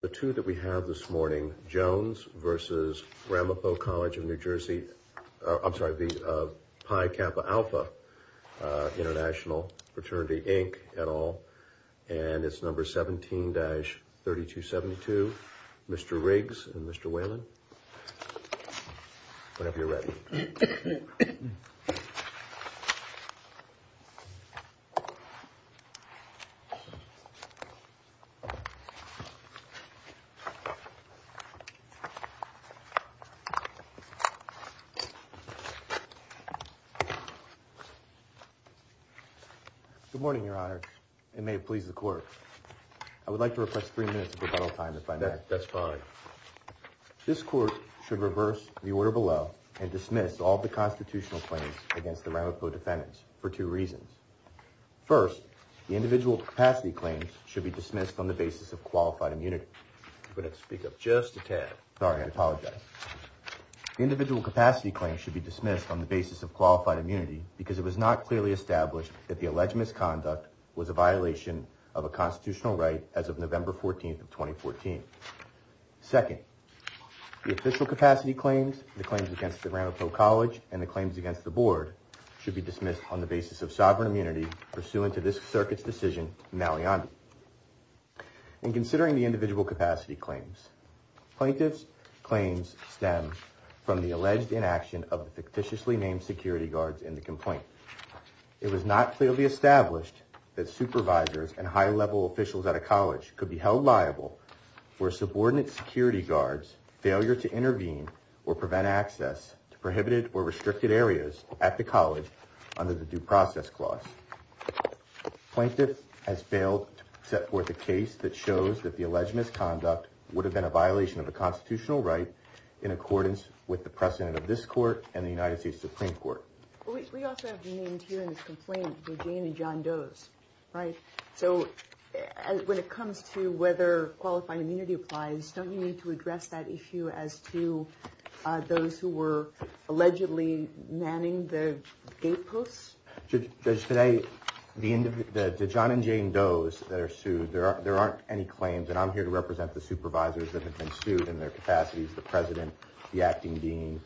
The two that we have this morning, Jones v. Ramaphoe College of New Jersey, I'm sorry, Pi Kappa Alpha International Fraternity, Inc. et al., and it's number 17-3272. Mr. Riggs and Mr. Whalen, whenever you're ready. Good morning, Your Honor. It may please the court. I would like to request three minutes of rebuttal time if I may. That's fine. This court should reverse the order below and dismiss all the constitutional claims against the Ramaphoe defendants for two reasons. First, the individual capacity claims should be dismissed on the basis of qualified immunity. You're going to have to speak up just a tad. Sorry, I apologize. The individual capacity claims should be dismissed on the basis of qualified immunity because it was not clearly established that the alleged misconduct was a violation of a constitutional right as of November 14, 2014. Second, the official capacity claims, the claims against the Ramaphoe College, and the claims against the board should be dismissed on the basis of sovereign immunity pursuant to this circuit's decision, Maliandi. In considering the individual capacity claims, plaintiff's claims stem from the alleged inaction of the fictitiously named security guards in the complaint. It was not clearly established that supervisors and high-level officials at a college could be held liable for subordinate security guards' failure to intervene or prevent access to prohibited or restricted areas at the college under the due process clause. Plaintiff has failed to set forth a case that shows that the alleged misconduct would have been a violation of a constitutional right in accordance with the precedent of this court and the United States Supreme Court. We also have named here in this complaint, Eugene and John Doe's, right? So when it comes to whether qualified immunity applies, don't you need to address that issue as to those who were allegedly manning the gate posts? Judge, today, the John and Jane Doe's that are sued, there aren't any claims, and I'm here to represent the supervisors that have been sued in their capacities, the president, the acting dean,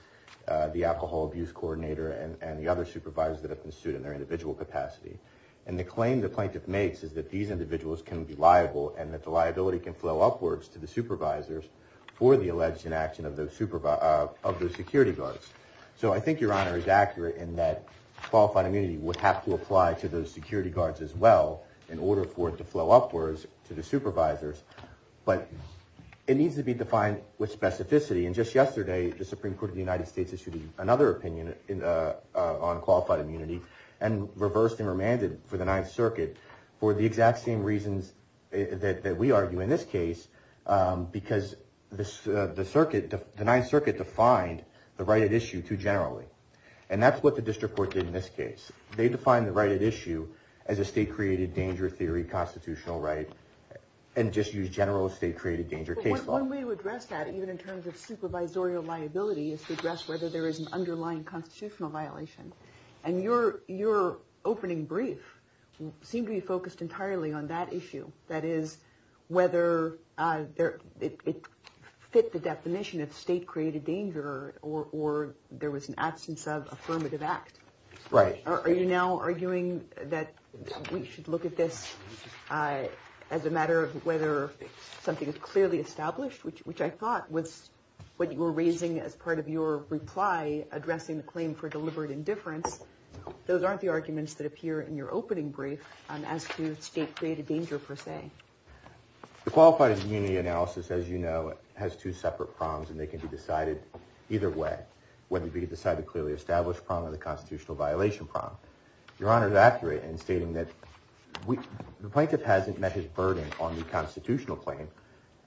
the alcohol abuse coordinator, and the other supervisors that have been sued in their individual capacity. And the claim the plaintiff makes is that these individuals can be liable and that the liability can flow upwards to the supervisors for the alleged inaction of those security guards. So I think Your Honor is accurate in that qualified immunity would have to apply to those security guards as well in order for it to flow upwards to the supervisors. But it needs to be defined with specificity. And just yesterday, the Supreme Court of the United States issued another opinion on qualified immunity and reversed and remanded for the Ninth Circuit for the exact same reasons that we argue in this case, because the Ninth Circuit defined the right at issue too generally. And that's what the district court did in this case. They defined the right at issue as a state-created danger theory constitutional right and just used general state-created danger case law. One way to address that, even in terms of supervisorial liability, is to address whether there is an underlying constitutional violation. And your opening brief seemed to be focused entirely on that issue. That is, whether it fit the definition of state-created danger or there was an absence of affirmative act. Right. Are you now arguing that we should look at this as a matter of whether something is clearly established, which I thought was what you were raising as part of your reply addressing the claim for deliberate indifference? Those aren't the arguments that appear in your opening brief as to state-created danger per se. The qualified immunity analysis, as you know, has two separate prongs and they can be decided either way, whether we decide the clearly established prong or the constitutional violation prong. Your Honor is accurate in stating that the plaintiff hasn't met his burden on the constitutional claim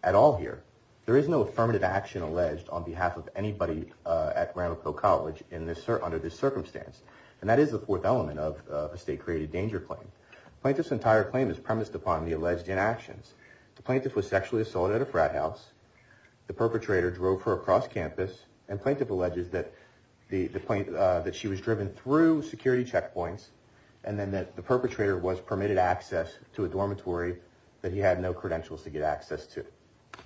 at all here. There is no affirmative action alleged on behalf of anybody at Granville College under this circumstance. And that is the fourth element of a state-created danger claim. Plaintiff's entire claim is premised upon the alleged inactions. The plaintiff was sexually assaulted at a frat house. The perpetrator drove her across campus. And plaintiff alleges that she was driven through security checkpoints. And then that the perpetrator was permitted access to a dormitory that he had no credentials to get access to.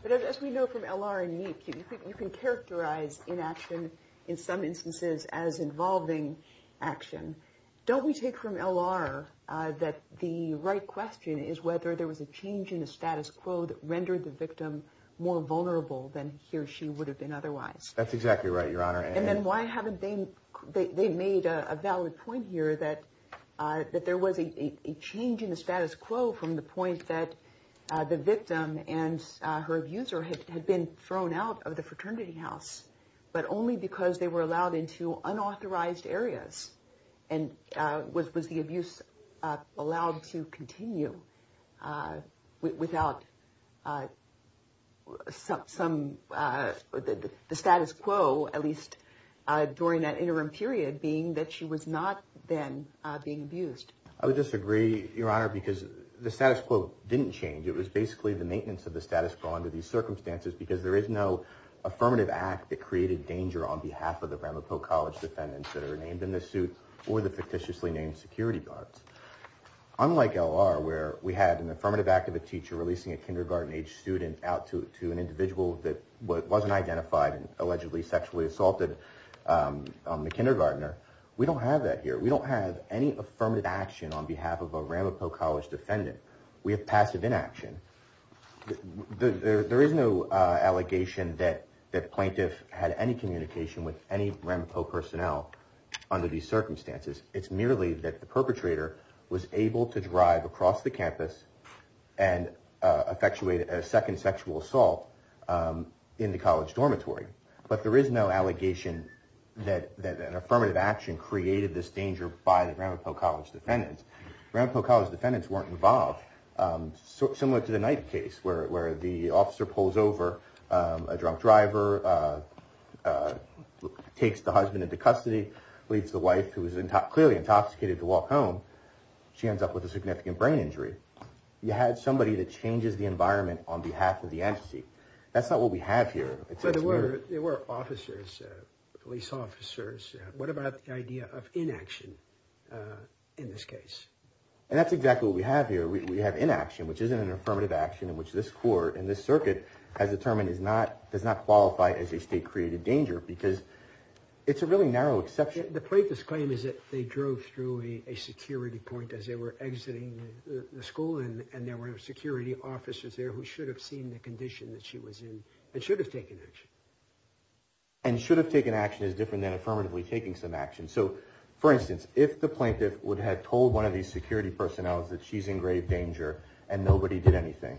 But as we know from L.R. and me, you can characterize inaction in some instances as involving action. Don't we take from L.R. that the right question is whether there was a change in the status quo that rendered the victim more vulnerable than he or she would have been otherwise? That's exactly right, Your Honor. And then why haven't they made a valid point here that there was a change in the status quo from the point that the victim and her abuser had been thrown out of the fraternity house, but only because they were allowed into unauthorized areas? And was the abuse allowed to continue without some of the status quo, at least during that interim period, being that she was not then being abused? I would disagree, Your Honor, because the status quo didn't change. It was basically the maintenance of the status quo under these circumstances because there is no affirmative act that created danger on behalf of the Ramapo College defendants that are named in this suit or the fictitiously named security guards. Unlike L.R., where we had an affirmative act of a teacher releasing a kindergarten-aged student out to an individual that wasn't identified and allegedly sexually assaulted the kindergartner, we don't have that here. We don't have any affirmative action on behalf of a Ramapo College defendant. We have passive inaction. There is no allegation that the plaintiff had any communication with any Ramapo personnel under these circumstances. It's merely that the perpetrator was able to drive across the campus and effectuate a second sexual assault in the college dormitory. But there is no allegation that an affirmative action created this danger by the Ramapo College defendants. Ramapo College defendants weren't involved. Similar to the Knight case, where the officer pulls over a drunk driver, takes the husband into custody, leaves the wife, who is clearly intoxicated, to walk home. She ends up with a significant brain injury. You had somebody that changes the environment on behalf of the entity. That's not what we have here. But there were officers, police officers. What about the idea of inaction in this case? And that's exactly what we have here. We have inaction, which isn't an affirmative action in which this court and this circuit has determined does not qualify as a state-created danger because it's a really narrow exception. The plaintiff's claim is that they drove through a security point as they were exiting the school. And there were security officers there who should have seen the condition that she was in and should have taken action. And should have taken action is different than affirmatively taking some action. So, for instance, if the plaintiff would have told one of these security personnel that she's in grave danger and nobody did anything,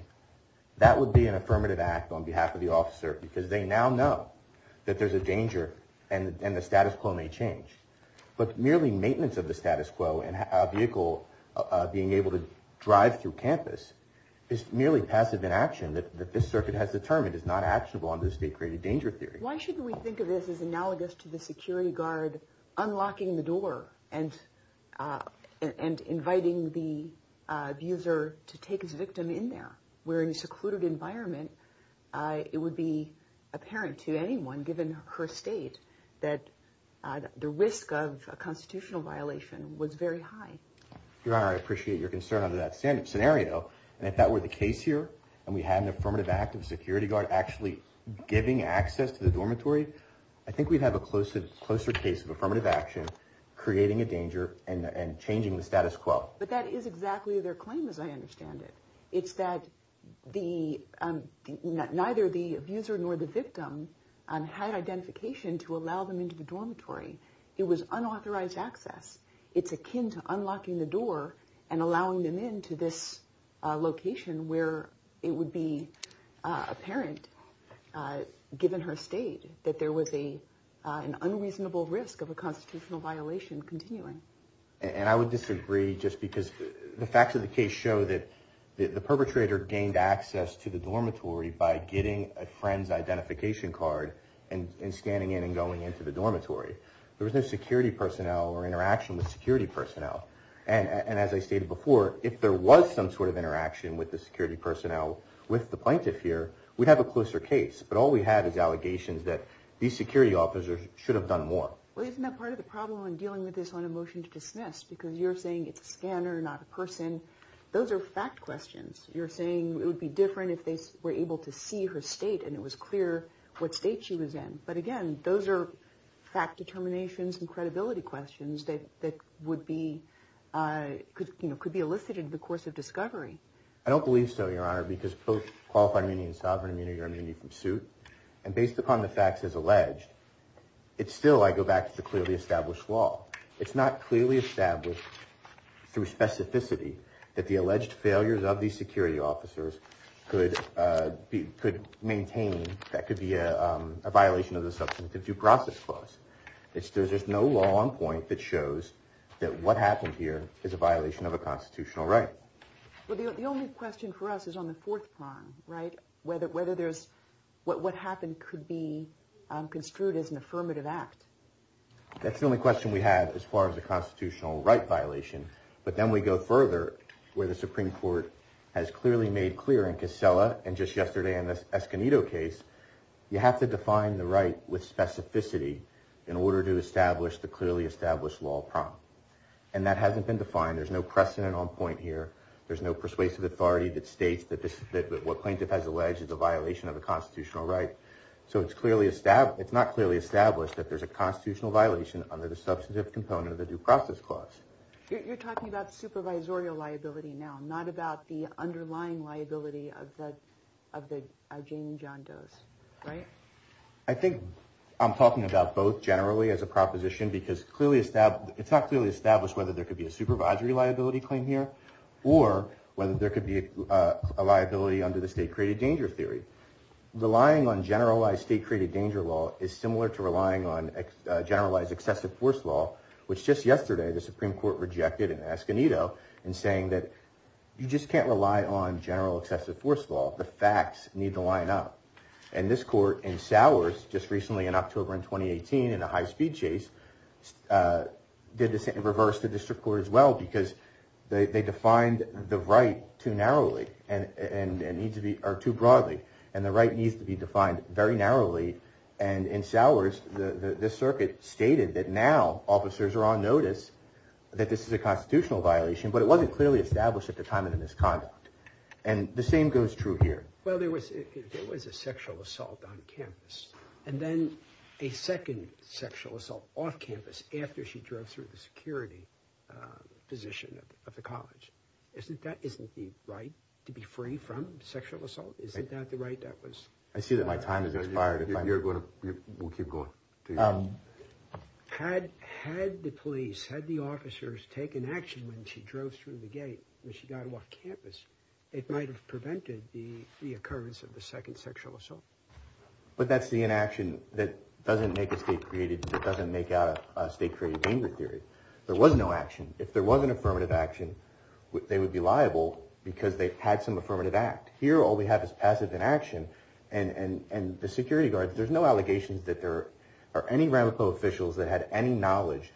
that would be an affirmative act on behalf of the officer because they now know that there's a danger and the status quo may change. But merely maintenance of the status quo and a vehicle being able to drive through campus is merely passive inaction that this circuit has determined is not actionable under the state-created danger theory. Why shouldn't we think of this as analogous to the security guard unlocking the door and inviting the abuser to take his victim in there? Where in a secluded environment, it would be apparent to anyone, given her state, that the risk of a constitutional violation was very high. Your Honor, I appreciate your concern under that scenario. And if that were the case here and we had an affirmative act of a security guard actually giving access to the dormitory, I think we'd have a closer case of affirmative action creating a danger and changing the status quo. But that is exactly their claim as I understand it. It's that neither the abuser nor the victim had identification to allow them into the dormitory. It was unauthorized access. It's akin to unlocking the door and allowing them into this location where it would be apparent, given her state, that there was an unreasonable risk of a constitutional violation continuing. And I would disagree just because the facts of the case show that the perpetrator gained access to the dormitory by getting a friend's identification card and scanning in and going into the dormitory. There was no security personnel or interaction with security personnel. And as I stated before, if there was some sort of interaction with the security personnel with the plaintiff here, we'd have a closer case. But all we have is allegations that these security officers should have done more. Well, isn't that part of the problem in dealing with this on a motion to dismiss? Because you're saying it's a scanner, not a person. Those are fact questions. You're saying it would be different if they were able to see her state and it was clear what state she was in. But again, those are fact determinations and credibility questions that could be elicited in the course of discovery. I don't believe so, Your Honor, because both qualified immunity and sovereign immunity are immunity from suit. And based upon the facts as alleged, still I go back to the clearly established law. It's not clearly established through specificity that the alleged failures of these security officers could maintain that could be a violation of the substantive due process clause. There's just no law on point that shows that what happened here is a violation of a constitutional right. Well, the only question for us is on the fourth prong, right? Whether there's what happened could be construed as an affirmative act. That's the only question we have as far as a constitutional right violation. But then we go further where the Supreme Court has clearly made clear in Casella and just yesterday in the Esconedo case, you have to define the right with specificity in order to establish the clearly established law prong. And that hasn't been defined. There's no precedent on point here. There's no persuasive authority that states that what plaintiff has alleged is a violation of a constitutional right. So it's not clearly established that there's a constitutional violation under the substantive component of the due process clause. You're talking about supervisorial liability now, not about the underlying liability of the Jane and John Doe's, right? I think I'm talking about both generally as a proposition because it's not clearly established whether there could be a supervisory liability claim here or whether there could be a liability under the state-created danger theory. Relying on generalized state-created danger law is similar to relying on generalized excessive force law, which just yesterday the Supreme Court rejected in Esconedo in saying that you just can't rely on general excessive force law. The facts need to line up. And this court in Sowers just recently in October in 2018 in a high-speed chase did the same in reverse to district court as well because they defined the right too narrowly or too broadly. And the right needs to be defined very narrowly. And in Sowers, the circuit stated that now officers are on notice that this is a constitutional violation, but it wasn't clearly established at the time of the misconduct. And the same goes true here. Well, there was a sexual assault on campus. And then a second sexual assault off campus after she drove through the security position of the college. Isn't that the right to be free from sexual assault? I see that my time has expired. We'll keep going. Had the police, had the officers taken action when she drove through the gate when she got off campus, it might have prevented the occurrence of the second sexual assault. But that's the inaction that doesn't make a state-created danger theory. There was no action. If there was an affirmative action, they would be liable because they had some affirmative act. Here, all we have is passive inaction. And the security guards, there's no allegations that there are any Ramapo officials that had any knowledge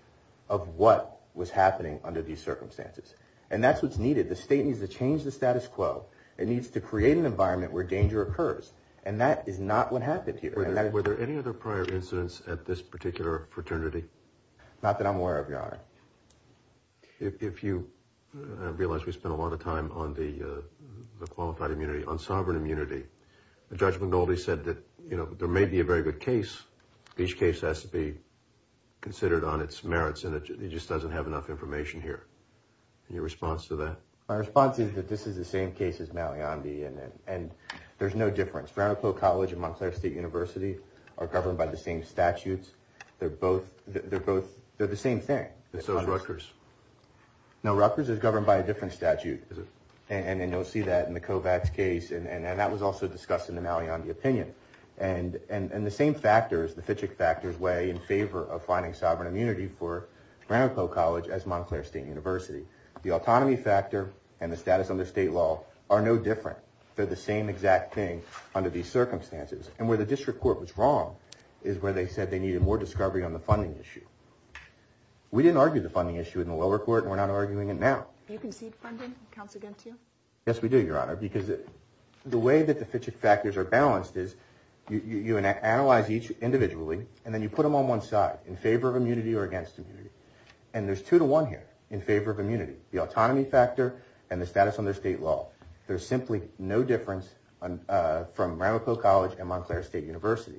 of what was happening under these circumstances. And that's what's needed. The state needs to change the status quo. It needs to create an environment where danger occurs. And that is not what happened here. Were there any other prior incidents at this particular fraternity? Not that I'm aware of, Your Honor. If you realize we spent a lot of time on the qualified immunity, on sovereign immunity, Judge McNulty said that, you know, there may be a very good case. Each case has to be considered on its merits, and he just doesn't have enough information here. Your response to that? My response is that this is the same case as Malyandi, and there's no difference. Fraternity College and Montclair State University are governed by the same statutes. They're both, they're the same thing. And so is Rutgers. No, Rutgers is governed by a different statute. And you'll see that in the Kovats case, and that was also discussed in the Malyandi opinion. And the same factors, the Fitchick factors, weigh in favor of finding sovereign immunity for Ramapo College as Montclair State University. The autonomy factor and the status under state law are no different. They're the same exact thing under these circumstances. And where the district court was wrong is where they said they needed more discovery on the funding issue. We didn't argue the funding issue in the lower court, and we're not arguing it now. Do you concede funding? Counsel against you? Yes, we do, Your Honor. Because the way that the Fitchick factors are balanced is you analyze each individually, and then you put them on one side, in favor of immunity or against immunity. And there's two to one here, in favor of immunity. The autonomy factor and the status under state law. There's simply no difference from Ramapo College and Montclair State University.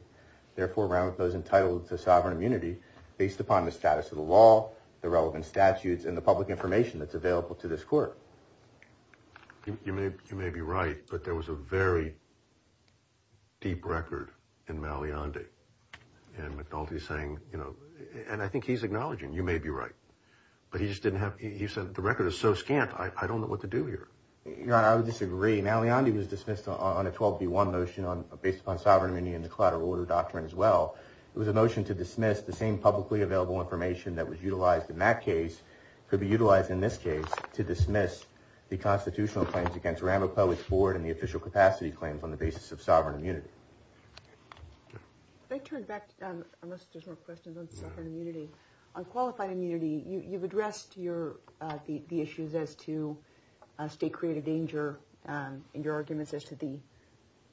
Therefore, Ramapo's entitled to sovereign immunity based upon the status of the law, the relevant statutes, and the public information that's available to this court. You may be right, but there was a very deep record in Malyandi. And McNulty's saying, you know, and I think he's acknowledging, you may be right, but he just didn't have, he said the record is so scant, I don't know what to do here. Your Honor, I would disagree. Malyandi was dismissed on a 12-v-1 motion based upon sovereign immunity and the collateral order doctrine as well. It was a motion to dismiss the same publicly available information that was utilized in that case, could be utilized in this case, to dismiss the constitutional claims against Ramapo, its board, and the official capacity claims on the basis of sovereign immunity. If I could turn back, unless there's more questions on sovereign immunity. On qualified immunity, you've addressed the issues as to state-created danger and your arguments as to the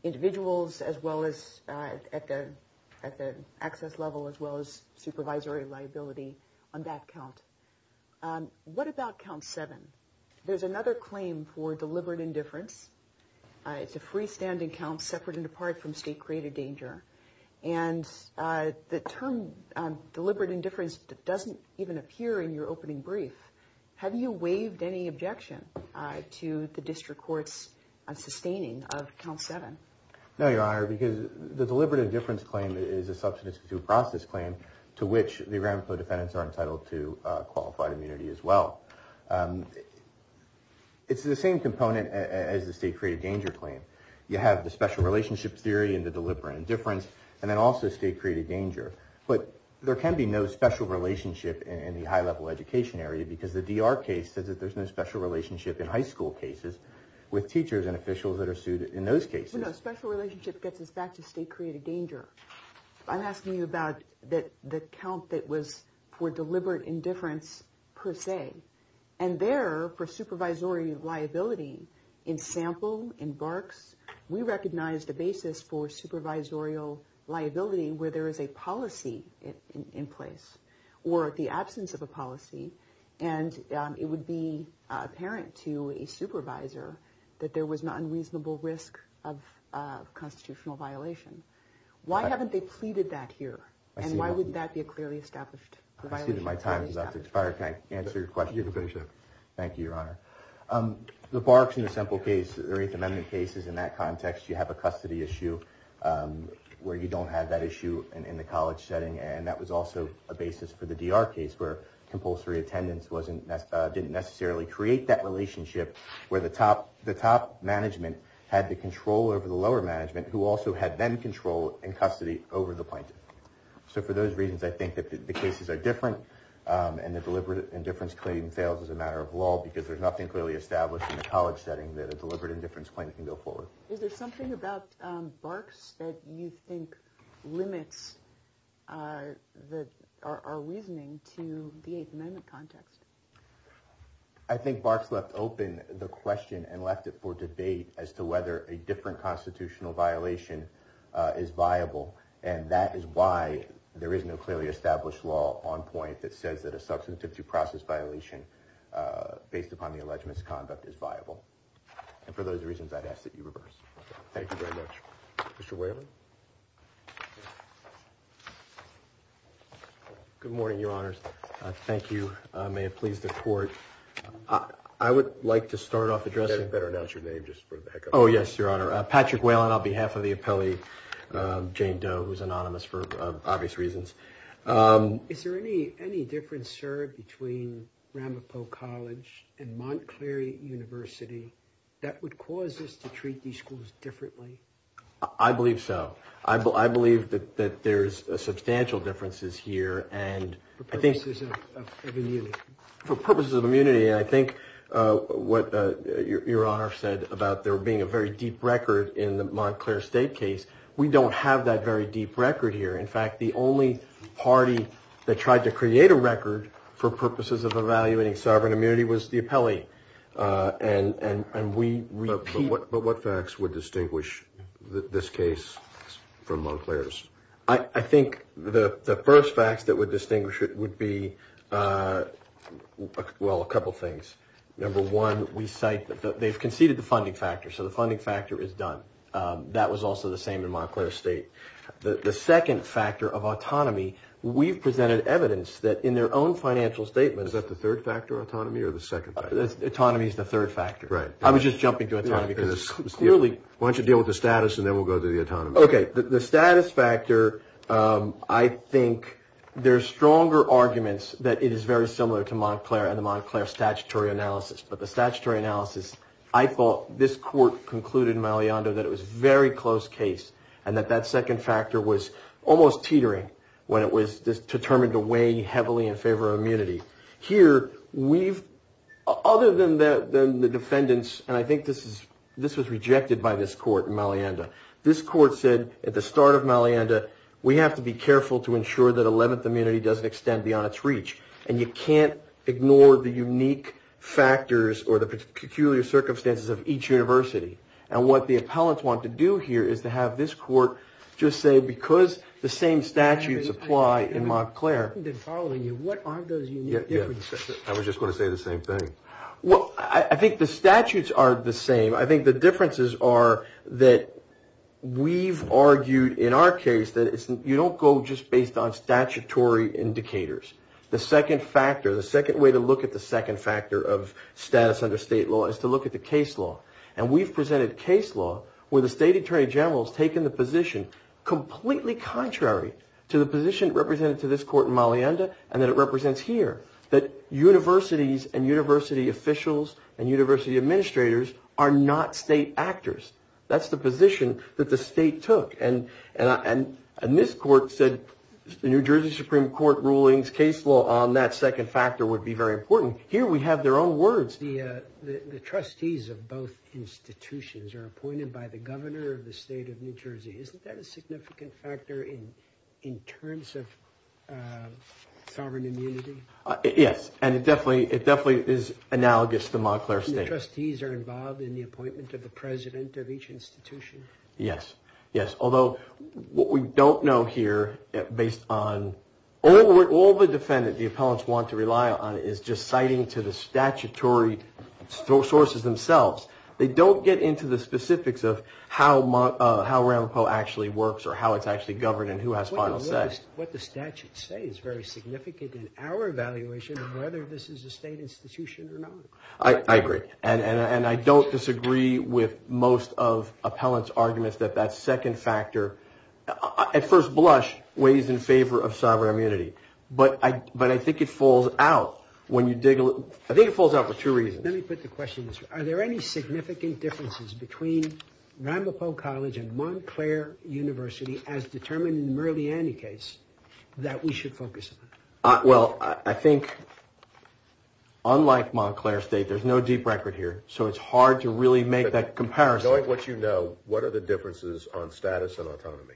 individuals as well as at the access level, as well as supervisory liability on that count. What about count seven? There's another claim for deliberate indifference. It's a freestanding count separate and apart from state-created danger. And the term deliberate indifference doesn't even appear in your opening brief. Have you waived any objection to the district court's sustaining of count seven? No, Your Honor, because the deliberate indifference claim is a substance-to-due process claim to which the Ramapo defendants are entitled to qualified immunity as well. It's the same component as the state-created danger claim. You have the special relationship theory and the deliberate indifference and then also state-created danger. But there can be no special relationship in the high-level education area because the DR case says that there's no special relationship in high school cases with teachers and officials that are sued in those cases. No, special relationship gets us back to state-created danger. I'm asking you about the count that was for deliberate indifference per se. And there, for supervisory liability, in sample, in Barks, we recognized a basis for supervisorial liability where there is a policy in place or the absence of a policy. And it would be apparent to a supervisor that there was an unreasonable risk of constitutional violation. Why haven't they pleaded that here? And why wouldn't that be a clearly established violation? My time has expired. Can I answer your question? You can finish up. Thank you, Your Honor. The Barks in the sample case, the Eighth Amendment cases, in that context, you have a custody issue where you don't have that issue in the college setting. And that was also a basis for the DR case where compulsory attendance didn't necessarily create that relationship where the top management had the control over the lower management who also had then control and custody over the plaintiff. So for those reasons, I think that the cases are different and the deliberate indifference claim fails as a matter of law because there's nothing clearly established in the college setting that a deliberate indifference claim can go forward. Is there something about Barks that you think limits our reasoning to the Eighth Amendment context? I think Barks left open the question and left it for debate as to whether a different constitutional violation is viable. And that is why there is no clearly established law on point that says that a substantive due process violation based upon the alleged misconduct is viable. And for those reasons, I'd ask that you reverse. Thank you very much. Mr. Whalen? Good morning, Your Honors. Thank you. May it please the Court. I would like to start off addressing... You better announce your name just for the heck of it. Oh, yes, Your Honor. Patrick Whalen on behalf of the appellee, Jane Doe, who's anonymous for obvious reasons. Is there any difference, sir, between Ramapo College and Montclair University that would cause us to treat these schools differently? I believe so. I believe that there's substantial differences here and I think... For purposes of immunity. For purposes of immunity, I think what Your Honor said about there being a very deep record in the Montclair State case, we don't have that very deep record here. In fact, the only party that tried to create a record for purposes of evaluating sovereign immunity was the appellee. And we repeat... But what facts would distinguish this case from Montclair's? I think the first facts that would distinguish it would be, well, a couple things. Number one, we cite that they've conceded the funding factor, so the funding factor is done. That was also the same in Montclair State. The second factor of autonomy, we've presented evidence that in their own financial statements... Is that the third factor, autonomy, or the second factor? Autonomy is the third factor. Right. I was just jumping to autonomy because it's clearly... Why don't you deal with the status and then we'll go to the autonomy. Okay. The status factor, I think there's stronger arguments that it is very similar to Montclair and the Montclair statutory analysis. But the statutory analysis, I thought this court concluded in Malianda that it was a very close case, and that that second factor was almost teetering when it was determined to weigh heavily in favor of immunity. Here, other than the defendants, and I think this was rejected by this court in Malianda, this court said at the start of Malianda, we have to be careful to ensure that 11th immunity doesn't extend beyond its reach. And you can't ignore the unique factors or the peculiar circumstances of each university. And what the appellants want to do here is to have this court just say, because the same statutes apply in Montclair... I think they're following you. What are those unique differences? I was just going to say the same thing. Well, I think the statutes are the same. I think the differences are that we've argued in our case that you don't go just based on statutory indicators. The second factor, the second way to look at the second factor of status under state law is to look at the case law. And we've presented case law where the state attorney general has taken the position completely contrary to the position represented to this court in Malianda and that it represents here, that universities and university officials and university administrators are not state actors. That's the position that the state took. And this court said the New Jersey Supreme Court rulings, case law on that second factor would be very important. Here we have their own words. The trustees of both institutions are appointed by the governor of the state of New Jersey. Isn't that a significant factor in terms of sovereign immunity? Yes, and it definitely is analogous to Montclair State. The trustees are involved in the appointment of the president of each institution? Yes, yes, although what we don't know here, based on all the defendants the appellants want to rely on is just citing to the statutory sources themselves. They don't get into the specifics of how Ramapo actually works or how it's actually governed and who has final say. What the statutes say is very significant in our evaluation of whether this is a state institution or not. I agree, and I don't disagree with most of appellants arguments that that second factor, at first blush, weighs in favor of sovereign immunity. But I think it falls out when you dig a little. I think it falls out for two reasons. Let me put the question this way. Are there any significant differences between Ramapo College and Montclair University as determined in the Murley-Annie case that we should focus on? Well, I think unlike Montclair State, there's no deep record here, so it's hard to really make that comparison. Knowing what you know, what are the differences on status and autonomy?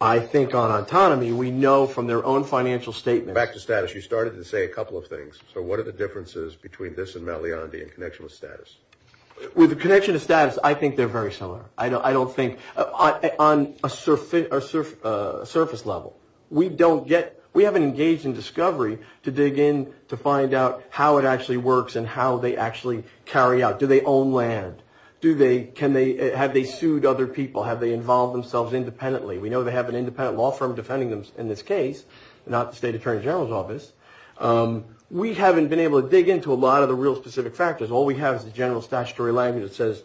I think on autonomy we know from their own financial statements. Back to status. You started to say a couple of things, so what are the differences between this and Mount Leondi in connection with status? With connection to status, I think they're very similar. I don't think on a surface level. We haven't engaged in discovery to dig in to find out how it actually works and how they actually carry out. Do they own land? Have they sued other people? Have they involved themselves independently? We know they have an independent law firm defending them in this case, not the State Attorney General's office. We haven't been able to dig in to a lot of the real specific factors. All we have is the general statutory language that says...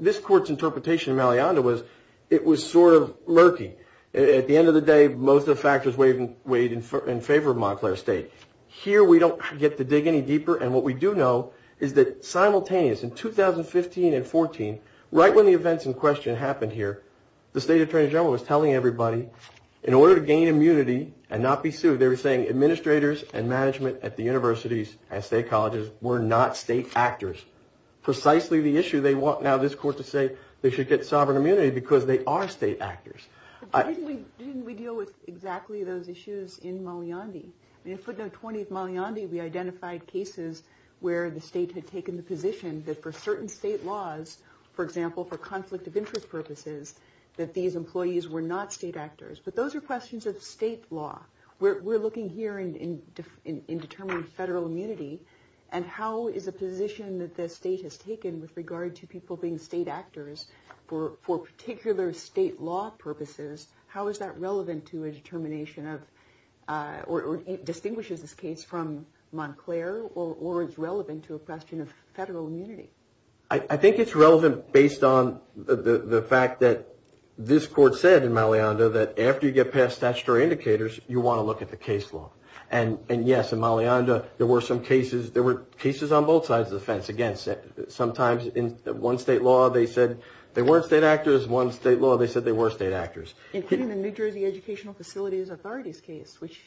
This court's interpretation of Mount Leondi was it was sort of murky. At the end of the day, most of the factors weighed in favor of Montclair State. Here we don't get to dig any deeper, and what we do know is that simultaneous in 2015 and 2014, right when the events in question happened here, the State Attorney General was telling everybody, in order to gain immunity and not be sued, they were saying administrators and management at the universities and state colleges were not state actors. Precisely the issue they want now this court to say they should get sovereign immunity because they are state actors. Didn't we deal with exactly those issues in Mount Leondi? In footnote 20 of Mount Leondi we identified cases where the state had taken the position that for certain state laws, for example for conflict of interest purposes, that these employees were not state actors. But those are questions of state law. We're looking here in determining federal immunity and how is a position that the state has taken with regard to people being state actors for particular state law purposes, how is that relevant to a determination of, or distinguishes this case from Montclair or is relevant to a question of federal immunity? I think it's relevant based on the fact that this court said in Mount Leondi that after you get past statutory indicators, you want to look at the case law. And yes, in Mount Leondi there were some cases, there were cases on both sides of the fence. Again, sometimes in one state law they said they weren't state actors, including the New Jersey Educational Facilities Authority's case, which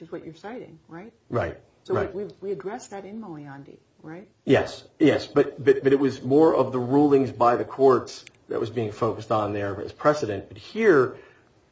is what you're citing, right? Right. So we addressed that in Mount Leondi, right? Yes, yes. But it was more of the rulings by the courts that was being focused on there as precedent. But here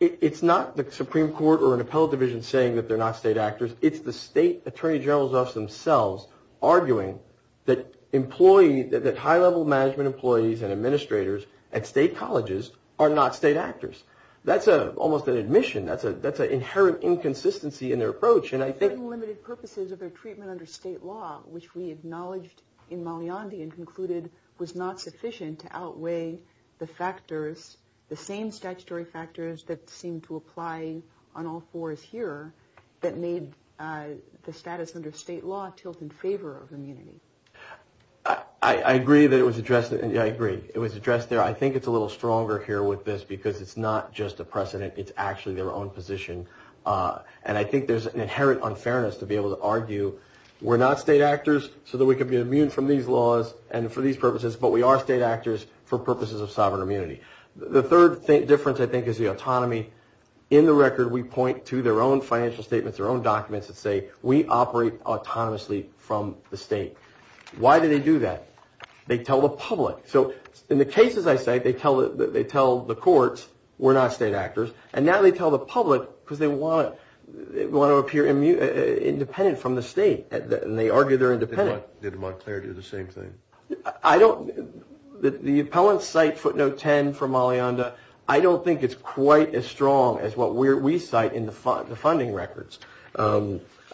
it's not the Supreme Court or an appellate division saying that they're not state actors. It's the state attorney generals themselves arguing that employee, that high-level management employees and administrators at state colleges are not state actors. That's almost an admission. That's an inherent inconsistency in their approach. And I think- For very limited purposes of their treatment under state law, which we acknowledged in Mount Leondi and concluded was not sufficient to outweigh the factors, the same statutory factors that seem to apply on all fours here that made the status under state law tilt in favor of immunity. I agree that it was addressed. I agree. It was addressed there. I think it's a little stronger here with this because it's not just a precedent. It's actually their own position. And I think there's an inherent unfairness to be able to argue we're not state actors so that we can be immune from these laws and for these purposes, but we are state actors for purposes of sovereign immunity. The third difference, I think, is the autonomy. In the record, we point to their own financial statements, their own documents that say we operate autonomously from the state. Why do they do that? They tell the public. So in the cases I cite, they tell the courts we're not state actors, and now they tell the public because they want to appear independent from the state, and they argue they're independent. Did Montclair do the same thing? The appellants cite footnote 10 from Mount Leondi. I don't think it's quite as strong as what we cite in the funding records.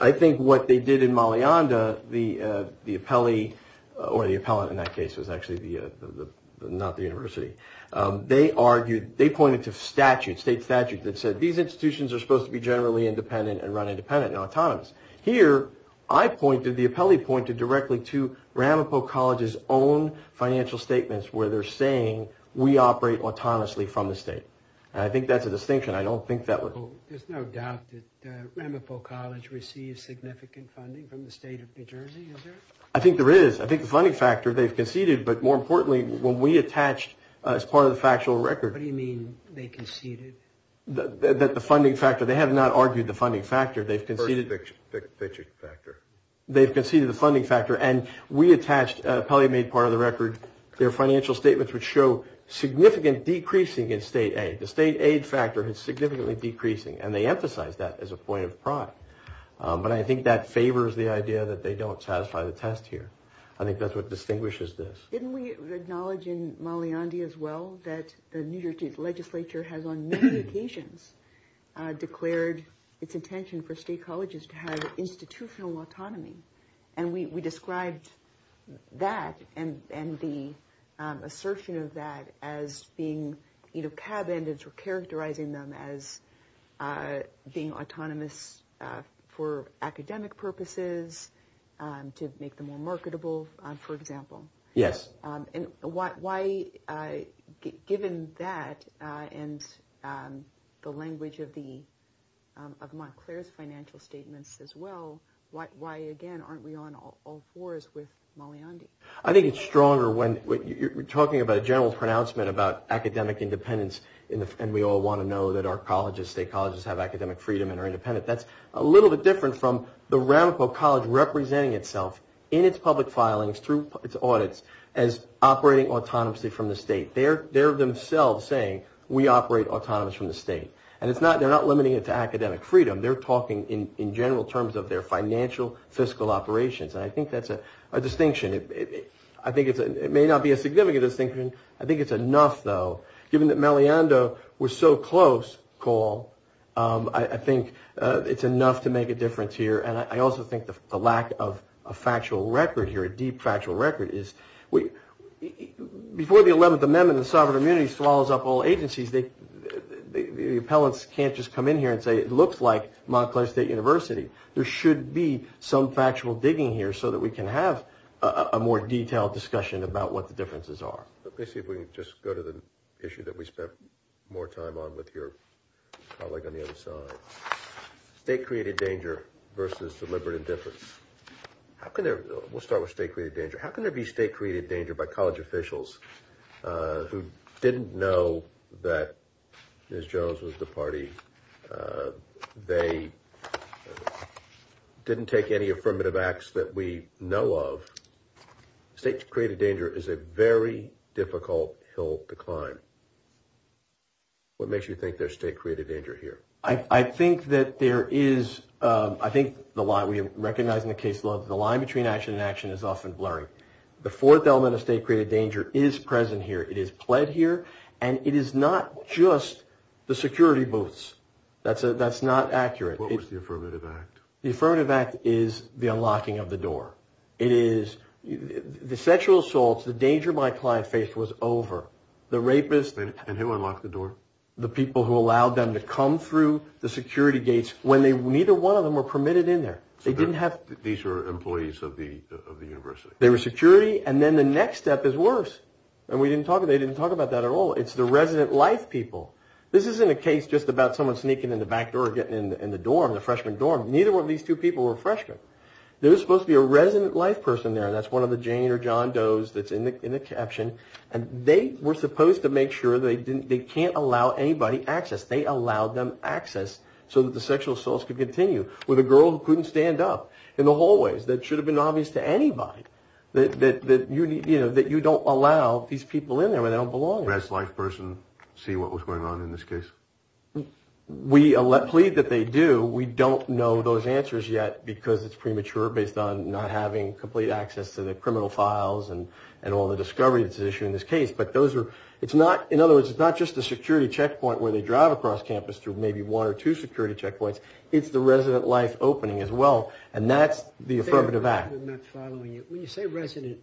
I think what they did in Mount Leondi, the appellee, or the appellant in that case was actually not the university. They argued, they pointed to statutes, state statutes that said these institutions are supposed to be generally independent and run independent and autonomous. Here, I pointed, the appellee pointed directly to Ramapo College's own financial statements where they're saying we operate autonomously from the state. And I think that's a distinction. I don't think that would. So there's no doubt that Ramapo College received significant funding from the state of New Jersey, is there? I think there is. I think the funding factor they've conceded, but more importantly, when we attached as part of the factual record. What do you mean they conceded? That the funding factor, they have not argued the funding factor. They've conceded the funding factor, and we attached, the appellee made part of the record, their financial statements would show significant decreasing in state aid. The state aid factor is significantly decreasing, and they emphasize that as a point of pride. But I think that favors the idea that they don't satisfy the test here. I think that's what distinguishes this. Didn't we acknowledge in Maliandi as well that the New Jersey legislature has on many occasions declared its intention for state colleges to have institutional autonomy? And we described that and the assertion of that as being, you know, tab-ended for characterizing them as being autonomous for academic purposes, to make them more marketable, for example. Yes. And why, given that and the language of Montclair's financial statements as well, why, again, aren't we on all fours with Maliandi? I think it's stronger when you're talking about a general pronouncement about academic independence, and we all want to know that our colleges, state colleges have academic freedom and are independent. That's a little bit different from the Ramapo College representing itself in its public filings through its audits as operating autonomously from the state. They're themselves saying, we operate autonomously from the state. And they're not limiting it to academic freedom. They're talking in general terms of their financial fiscal operations. And I think that's a distinction. I think it may not be a significant distinction. I think it's enough, though. Given that Maliandi was so close, Cole, I think it's enough to make a difference here. And I also think the lack of a factual record here, a deep factual record, is before the 11th Amendment and sovereign immunity swallows up all agencies, the appellants can't just come in here and say it looks like Montclair State University. There should be some factual digging here so that we can have a more detailed discussion about what the differences are. Let me see if we can just go to the issue that we spent more time on with your colleague on the other side. State-created danger versus deliberate indifference. We'll start with state-created danger. How can there be state-created danger by college officials who didn't know that Ms. Jones was the party? They didn't take any affirmative acts that we know of. State-created danger is a very difficult hill to climb. What makes you think there's state-created danger here? I think that there is. I think we recognize in the case law that the line between action and action is often blurry. The fourth element of state-created danger is present here. It is pled here, and it is not just the security booths. That's not accurate. What was the affirmative act? The affirmative act is the unlocking of the door. It is the sexual assaults. The danger my client faced was over. The rapists. And who unlocked the door? The people who allowed them to come through the security gates when neither one of them were permitted in there. These were employees of the university. They were security, and then the next step is worse. They didn't talk about that at all. It's the resident life people. This isn't a case just about someone sneaking in the back door or getting in the dorm, the freshman dorm. Neither one of these two people were freshmen. There was supposed to be a resident life person there. That's one of the Jane or John Does that's in the caption, and they were supposed to make sure they can't allow anybody access. They allowed them access so that the sexual assaults could continue with a girl who couldn't stand up in the hallways. That should have been obvious to anybody, that you don't allow these people in there where they don't belong. Does the resident life person see what was going on in this case? We plead that they do. We don't know those answers yet because it's premature based on not having complete access to the criminal files and all the discovery that's issued in this case. In other words, it's not just the security checkpoint where they drive across campus through maybe one or two security checkpoints. It's the resident life opening as well, and that's the Affirmative Act. When you say resident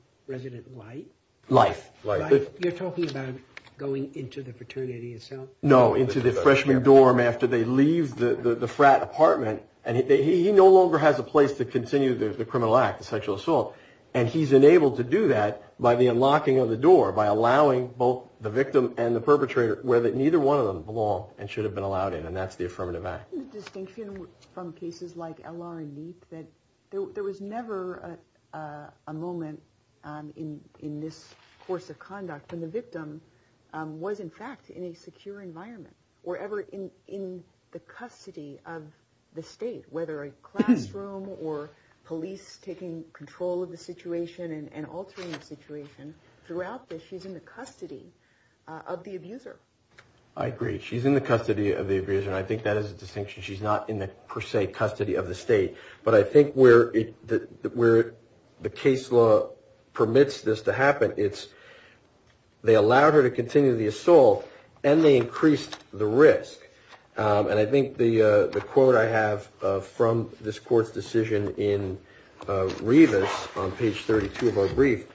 life, you're talking about going into the fraternity itself? No, into the freshman dorm after they leave the frat apartment, and he no longer has a place to continue the criminal act, the sexual assault, and he's enabled to do that by the unlocking of the door, by allowing both the victim and the perpetrator where neither one of them belong and should have been allowed in, and that's the Affirmative Act. The distinction from cases like L.R. and Neep, that there was never a moment in this course of conduct when the victim was in fact in a secure environment or ever in the custody of the state, whether a classroom or police taking control of the situation and altering the situation. Throughout this, she's in the custody of the abuser. I agree. She's in the custody of the abuser, and I think that is a distinction. She's not in the per se custody of the state, but I think where the case law permits this to happen, they allowed her to continue the assault, and they increased the risk. And I think the quote I have from this Court's decision in Revis, on page 32 of our brief,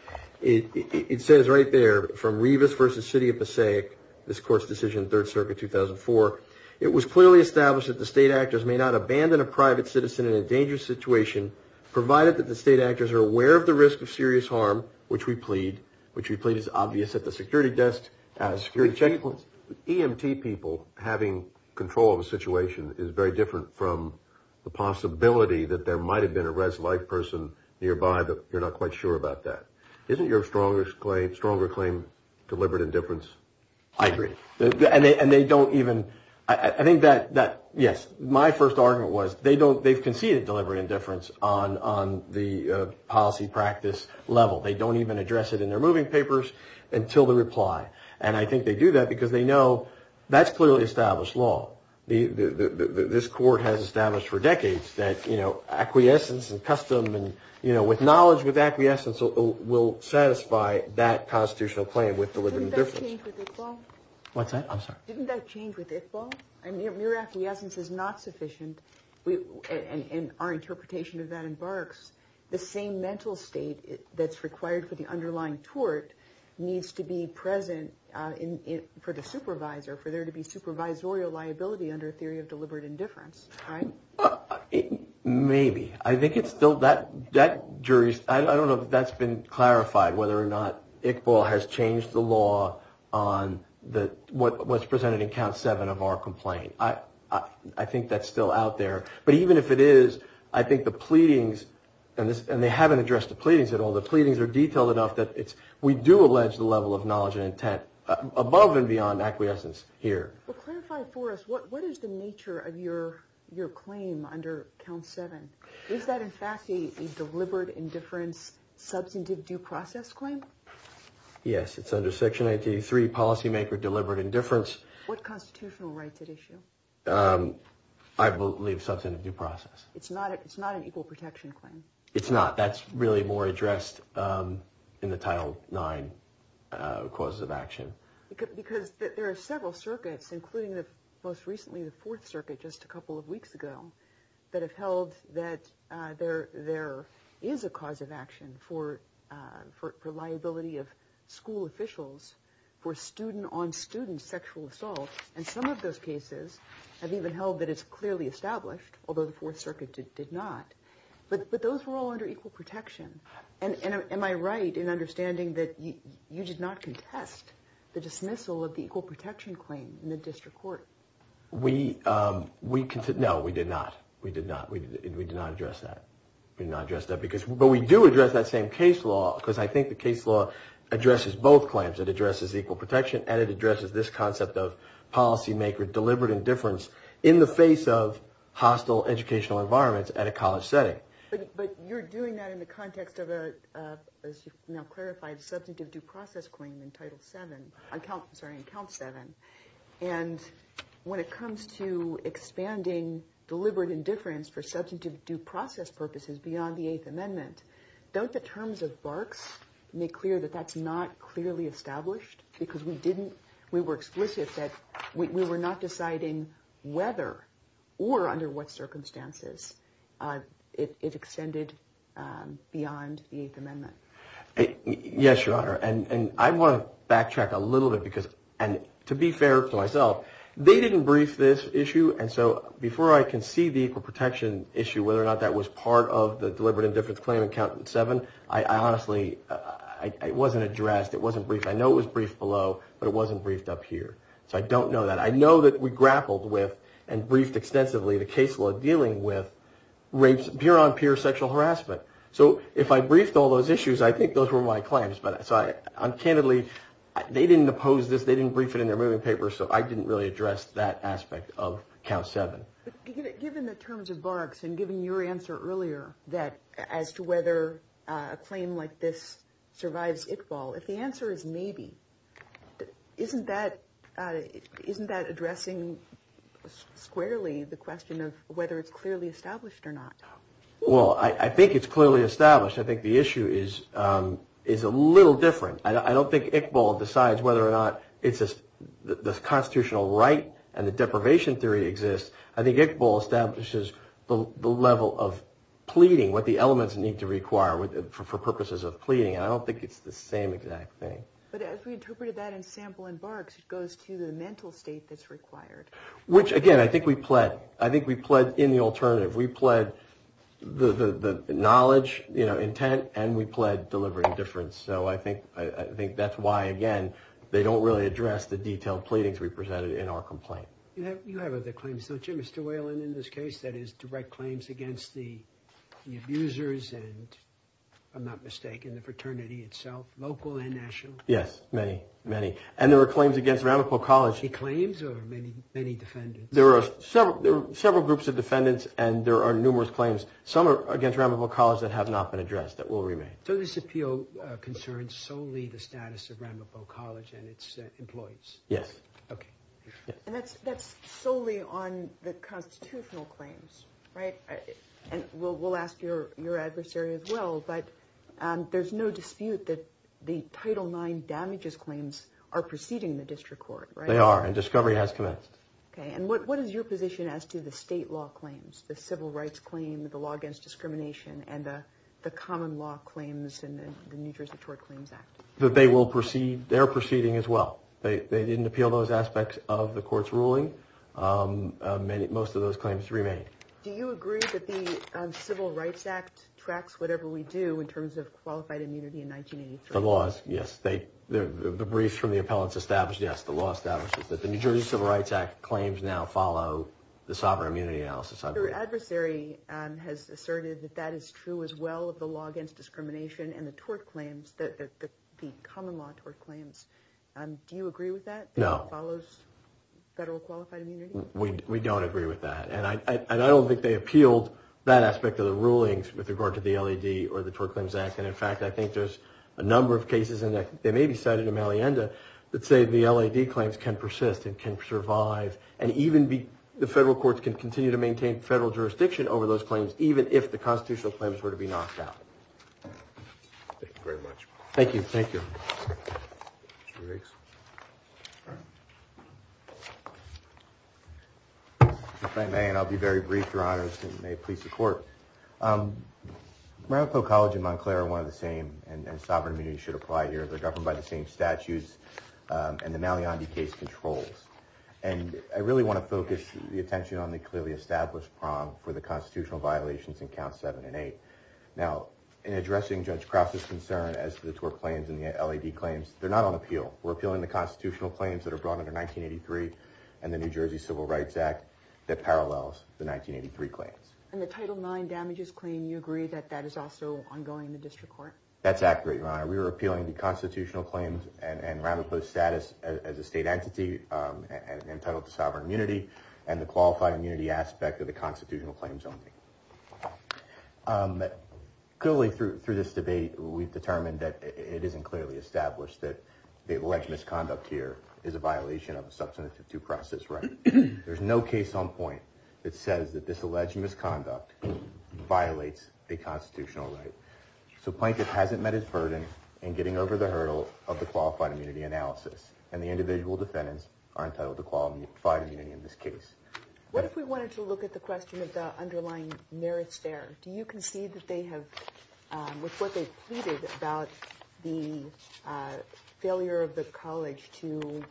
it says right there, from Revis v. City of Passaic, this Court's decision, 3rd Circuit, 2004, it was clearly established that the state actors may not abandon a private citizen in a dangerous situation, provided that the state actors are aware of the risk of serious harm, which we plead, which we plead is obvious at the security desk, as security checkpoints. EMT people having control of a situation is very different from the possibility that there might have been a res life person nearby, but you're not quite sure about that. Isn't your stronger claim deliberate indifference? I agree. And they don't even, I think that, yes, my first argument was, they've conceded deliberate indifference on the policy practice level. They don't even address it in their moving papers until the reply. And I think they do that because they know that's clearly established law. This Court has established for decades that acquiescence and custom, with knowledge, with acquiescence will satisfy that constitutional claim with deliberate indifference. Didn't that change with Iqbal? Didn't that change with Iqbal? I mean, mere acquiescence is not sufficient, and our interpretation of that embarks, the same mental state that's required for the underlying tort needs to be present for the supervisor, for there to be supervisorial liability under a theory of deliberate indifference, right? Maybe. I think it's still, that jury, I don't know if that's been clarified, whether or not Iqbal has changed the law on what's presented in Count 7 of our complaint. I think that's still out there. But even if it is, I think the pleadings, and they haven't addressed the pleadings at all, the pleadings are detailed enough that we do allege the level of knowledge and intent above and beyond acquiescence here. Well, clarify for us, what is the nature of your claim under Count 7? Is that, in fact, a deliberate indifference substantive due process claim? Yes, it's under Section 83, policymaker deliberate indifference. What constitutional rights it issue? I believe substantive due process. It's not an equal protection claim? It's not. That's really more addressed in the Title 9 causes of action. Because there are several circuits, including most recently the Fourth Circuit, just a couple of weeks ago, that have held that there is a cause of action for liability of school officials for student-on-student sexual assault. And some of those cases have even held that it's clearly established, although the Fourth Circuit did not. But those were all under equal protection. And am I right in understanding that you did not contest the dismissal of the equal protection claim in the district court? No, we did not. We did not address that. But we do address that same case law, because I think the case law addresses both claims. It addresses equal protection, and it addresses this concept of policymaker deliberate indifference in the face of hostile educational environments at a college setting. But you're doing that in the context of a, as you've now clarified, substantive due process claim in Count 7. And when it comes to expanding deliberate indifference for substantive due process purposes beyond the Eighth Amendment, don't the terms of Barks make clear that that's not clearly established? Because we didn't, we were explicit that we were not deciding whether or under what circumstances it extended beyond the Eighth Amendment. Yes, Your Honor. And I want to backtrack a little bit because, and to be fair to myself, they didn't brief this issue. And so before I can see the equal protection issue, whether or not that was part of the deliberate indifference claim in Count 7, I honestly, it wasn't addressed, it wasn't briefed. I know it was briefed below, but it wasn't briefed up here. So I don't know that. I know that we grappled with and briefed extensively the case law dealing with rapes, peer-on-peer sexual harassment. So if I briefed all those issues, I think those were my claims. But so I, candidly, they didn't oppose this, they didn't brief it in their moving papers, so I didn't really address that aspect of Count 7. Given the terms of Barks and given your answer earlier that, as to whether a claim like this survives Iqbal, if the answer is maybe, isn't that addressing squarely the question of whether it's clearly established or not? Well, I think it's clearly established. I think the issue is a little different. I don't think Iqbal decides whether or not the constitutional right and the deprivation theory exists. I think Iqbal establishes the level of pleading, what the elements need to require for purposes of pleading, and I don't think it's the same exact thing. But as we interpreted that in Sample and Barks, it goes to the mental state that's required. Which, again, I think we pled in the alternative. We pled the knowledge, intent, and we pled deliberate indifference. So I think that's why, again, they don't really address the detailed pleadings we presented in our complaint. You have other claims, don't you, Mr. Whalen, in this case? That is, direct claims against the abusers and, if I'm not mistaken, the fraternity itself, local and national? Yes, many, many. And there are claims against Ramapo College. Any claims or many defendants? There are several groups of defendants and there are numerous claims. Some are against Ramapo College that have not been addressed, that will remain. So this appeal concerns solely the status of Ramapo College and its employees? Yes. Okay. And that's solely on the constitutional claims, right? And we'll ask your adversary as well, but there's no dispute that the Title IX damages claims are preceding the district court, right? They are, and discovery has commenced. Okay, and what is your position as to the state law claims, the civil rights claim, the law against discrimination, and the common law claims in the New Jersey Court Claims Act? They are proceeding as well. They didn't appeal those aspects of the court's ruling. Most of those claims remain. Do you agree that the Civil Rights Act tracks whatever we do in terms of qualified immunity in 1983? The laws, yes. The briefs from the appellants establish, yes, the law establishes that. The New Jersey Civil Rights Act claims now follow the sovereign immunity analysis. Your adversary has asserted that that is true as well of the law against discrimination and the tort claims, the common law tort claims. Do you agree with that? No. That it follows federal qualified immunity? We don't agree with that, and I don't think they appealed that aspect of the rulings with regard to the LAD or the Tort Claims Act, and, in fact, I think there's a number of cases, and they may be cited in Malienda, that say the LAD claims can persist and can survive, and even the federal courts can continue to maintain federal jurisdiction over those claims, even if the constitutional claims were to be knocked out. Thank you very much. Thank you. Thank you. If I may, and I'll be very brief, Your Honors, and may it please the Court. Maricopa College and Montclair are one of the same, and sovereign immunity should apply here. They're governed by the same statutes and the Malienda case controls, and I really want to focus the attention on the clearly established prong for the constitutional violations in Counts 7 and 8. Now, in addressing Judge Cross's concern as to the tort claims and the LAD claims, they're not on appeal. We're appealing the constitutional claims that are brought under 1983 and the New Jersey Civil Rights Act that parallels the 1983 claims. And the Title IX Damages Claim, you agree that that is also ongoing in the district court? That's accurate, Your Honor. We're appealing the constitutional claims and rather post-status as a state entity entitled to sovereign immunity and the qualified immunity aspect of the constitutional claims only. Clearly, through this debate, we've determined that it isn't clearly established that the alleged misconduct here is a violation of the Substantive 2 Process right. There's no case on point that says that this alleged misconduct violates a constitutional right. So Plankett hasn't met his burden in getting over the hurdle of the qualified immunity analysis, and the individual defendants are entitled to qualified immunity in this case. What if we wanted to look at the question of the underlying merits there? Do you concede that they have, with what they've pleaded about the failure of the college to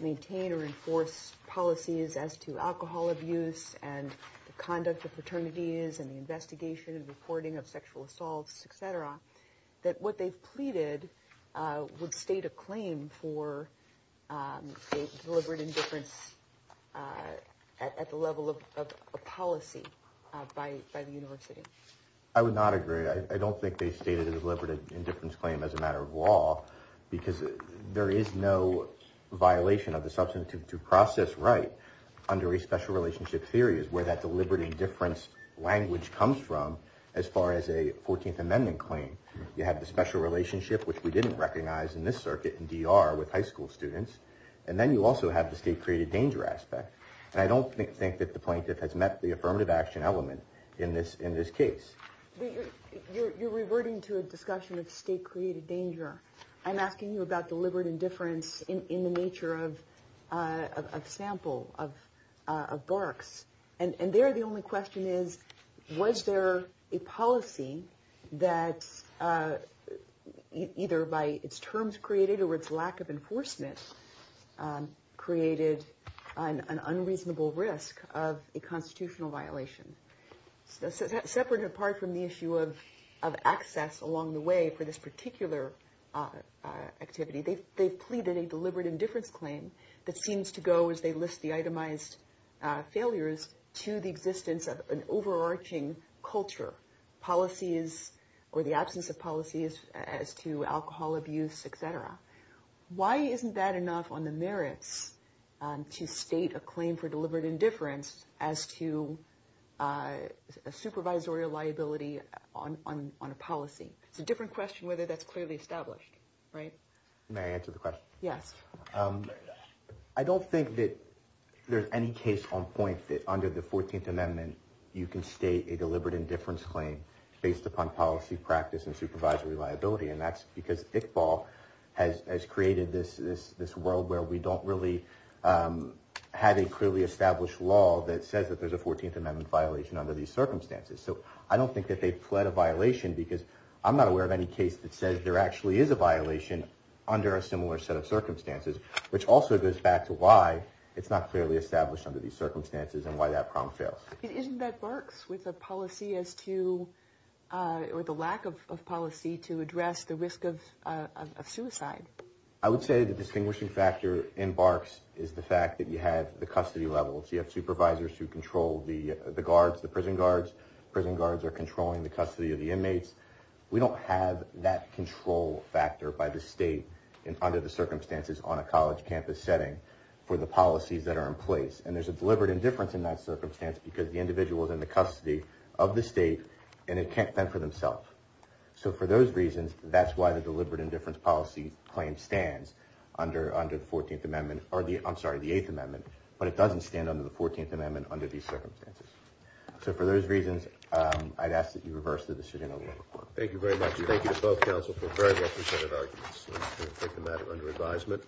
maintain or enforce policies as to alcohol abuse and the conduct of fraternities and the investigation and reporting of sexual assaults, et cetera, that what they've pleaded would state a claim for deliberate indifference at the level of a policy by the university? I would not agree. I don't think they stated a deliberate indifference claim as a matter of law because there is no violation of the Substantive 2 Process right under a special relationship theory is where that deliberate indifference language comes from as far as a 14th Amendment claim. You have the special relationship, which we didn't recognize in this circuit in DR with high school students, and then you also have the state-created danger aspect. I don't think that the plaintiff has met the affirmative action element in this case. You're reverting to a discussion of state-created danger. I'm asking you about deliberate indifference in the nature of a sample of barks. And there the only question is, was there a policy that either by its terms created or its lack of enforcement created an unreasonable risk of a constitutional violation? Separate and apart from the issue of access along the way for this particular activity, they've pleaded a deliberate indifference claim that seems to go, as they list the itemized failures, to the existence of an overarching culture, policies or the absence of policies as to alcohol abuse, etc. Why isn't that enough on the merits to state a claim for deliberate indifference as to a supervisory liability on a policy? It's a different question whether that's clearly established, right? May I answer the question? Yes. I don't think that there's any case on point that under the 14th Amendment, you can state a deliberate indifference claim based upon policy practice and supervisory liability, and that's because Iqbal has created this world where we don't really have a clearly established law that says that there's a 14th Amendment violation under these circumstances. So I don't think that they've pled a violation because I'm not aware of any case that says there actually is a violation under a similar set of circumstances, which also goes back to why it's not clearly established under these circumstances and why that problem fails. Isn't that Barks with a policy as to, or the lack of policy to address the risk of suicide? I would say the distinguishing factor in Barks is the fact that you have the custody levels. You have supervisors who control the guards, the prison guards. Prison guards are controlling the custody of the inmates. We don't have that control factor by the state under the circumstances on a college campus setting for the policies that are in place. And there's a deliberate indifference in that circumstance because the individual is in the custody of the state, and it can't fend for themselves. So for those reasons, that's why the deliberate indifference policy claim stands under the 14th Amendment, or I'm sorry, the 8th Amendment, but it doesn't stand under the 14th Amendment under these circumstances. So for those reasons, I'd ask that you reverse the decision over to the court. Thank you very much. Thank you to both counsel for very well-presented arguments. I'm going to take the matter under advisement.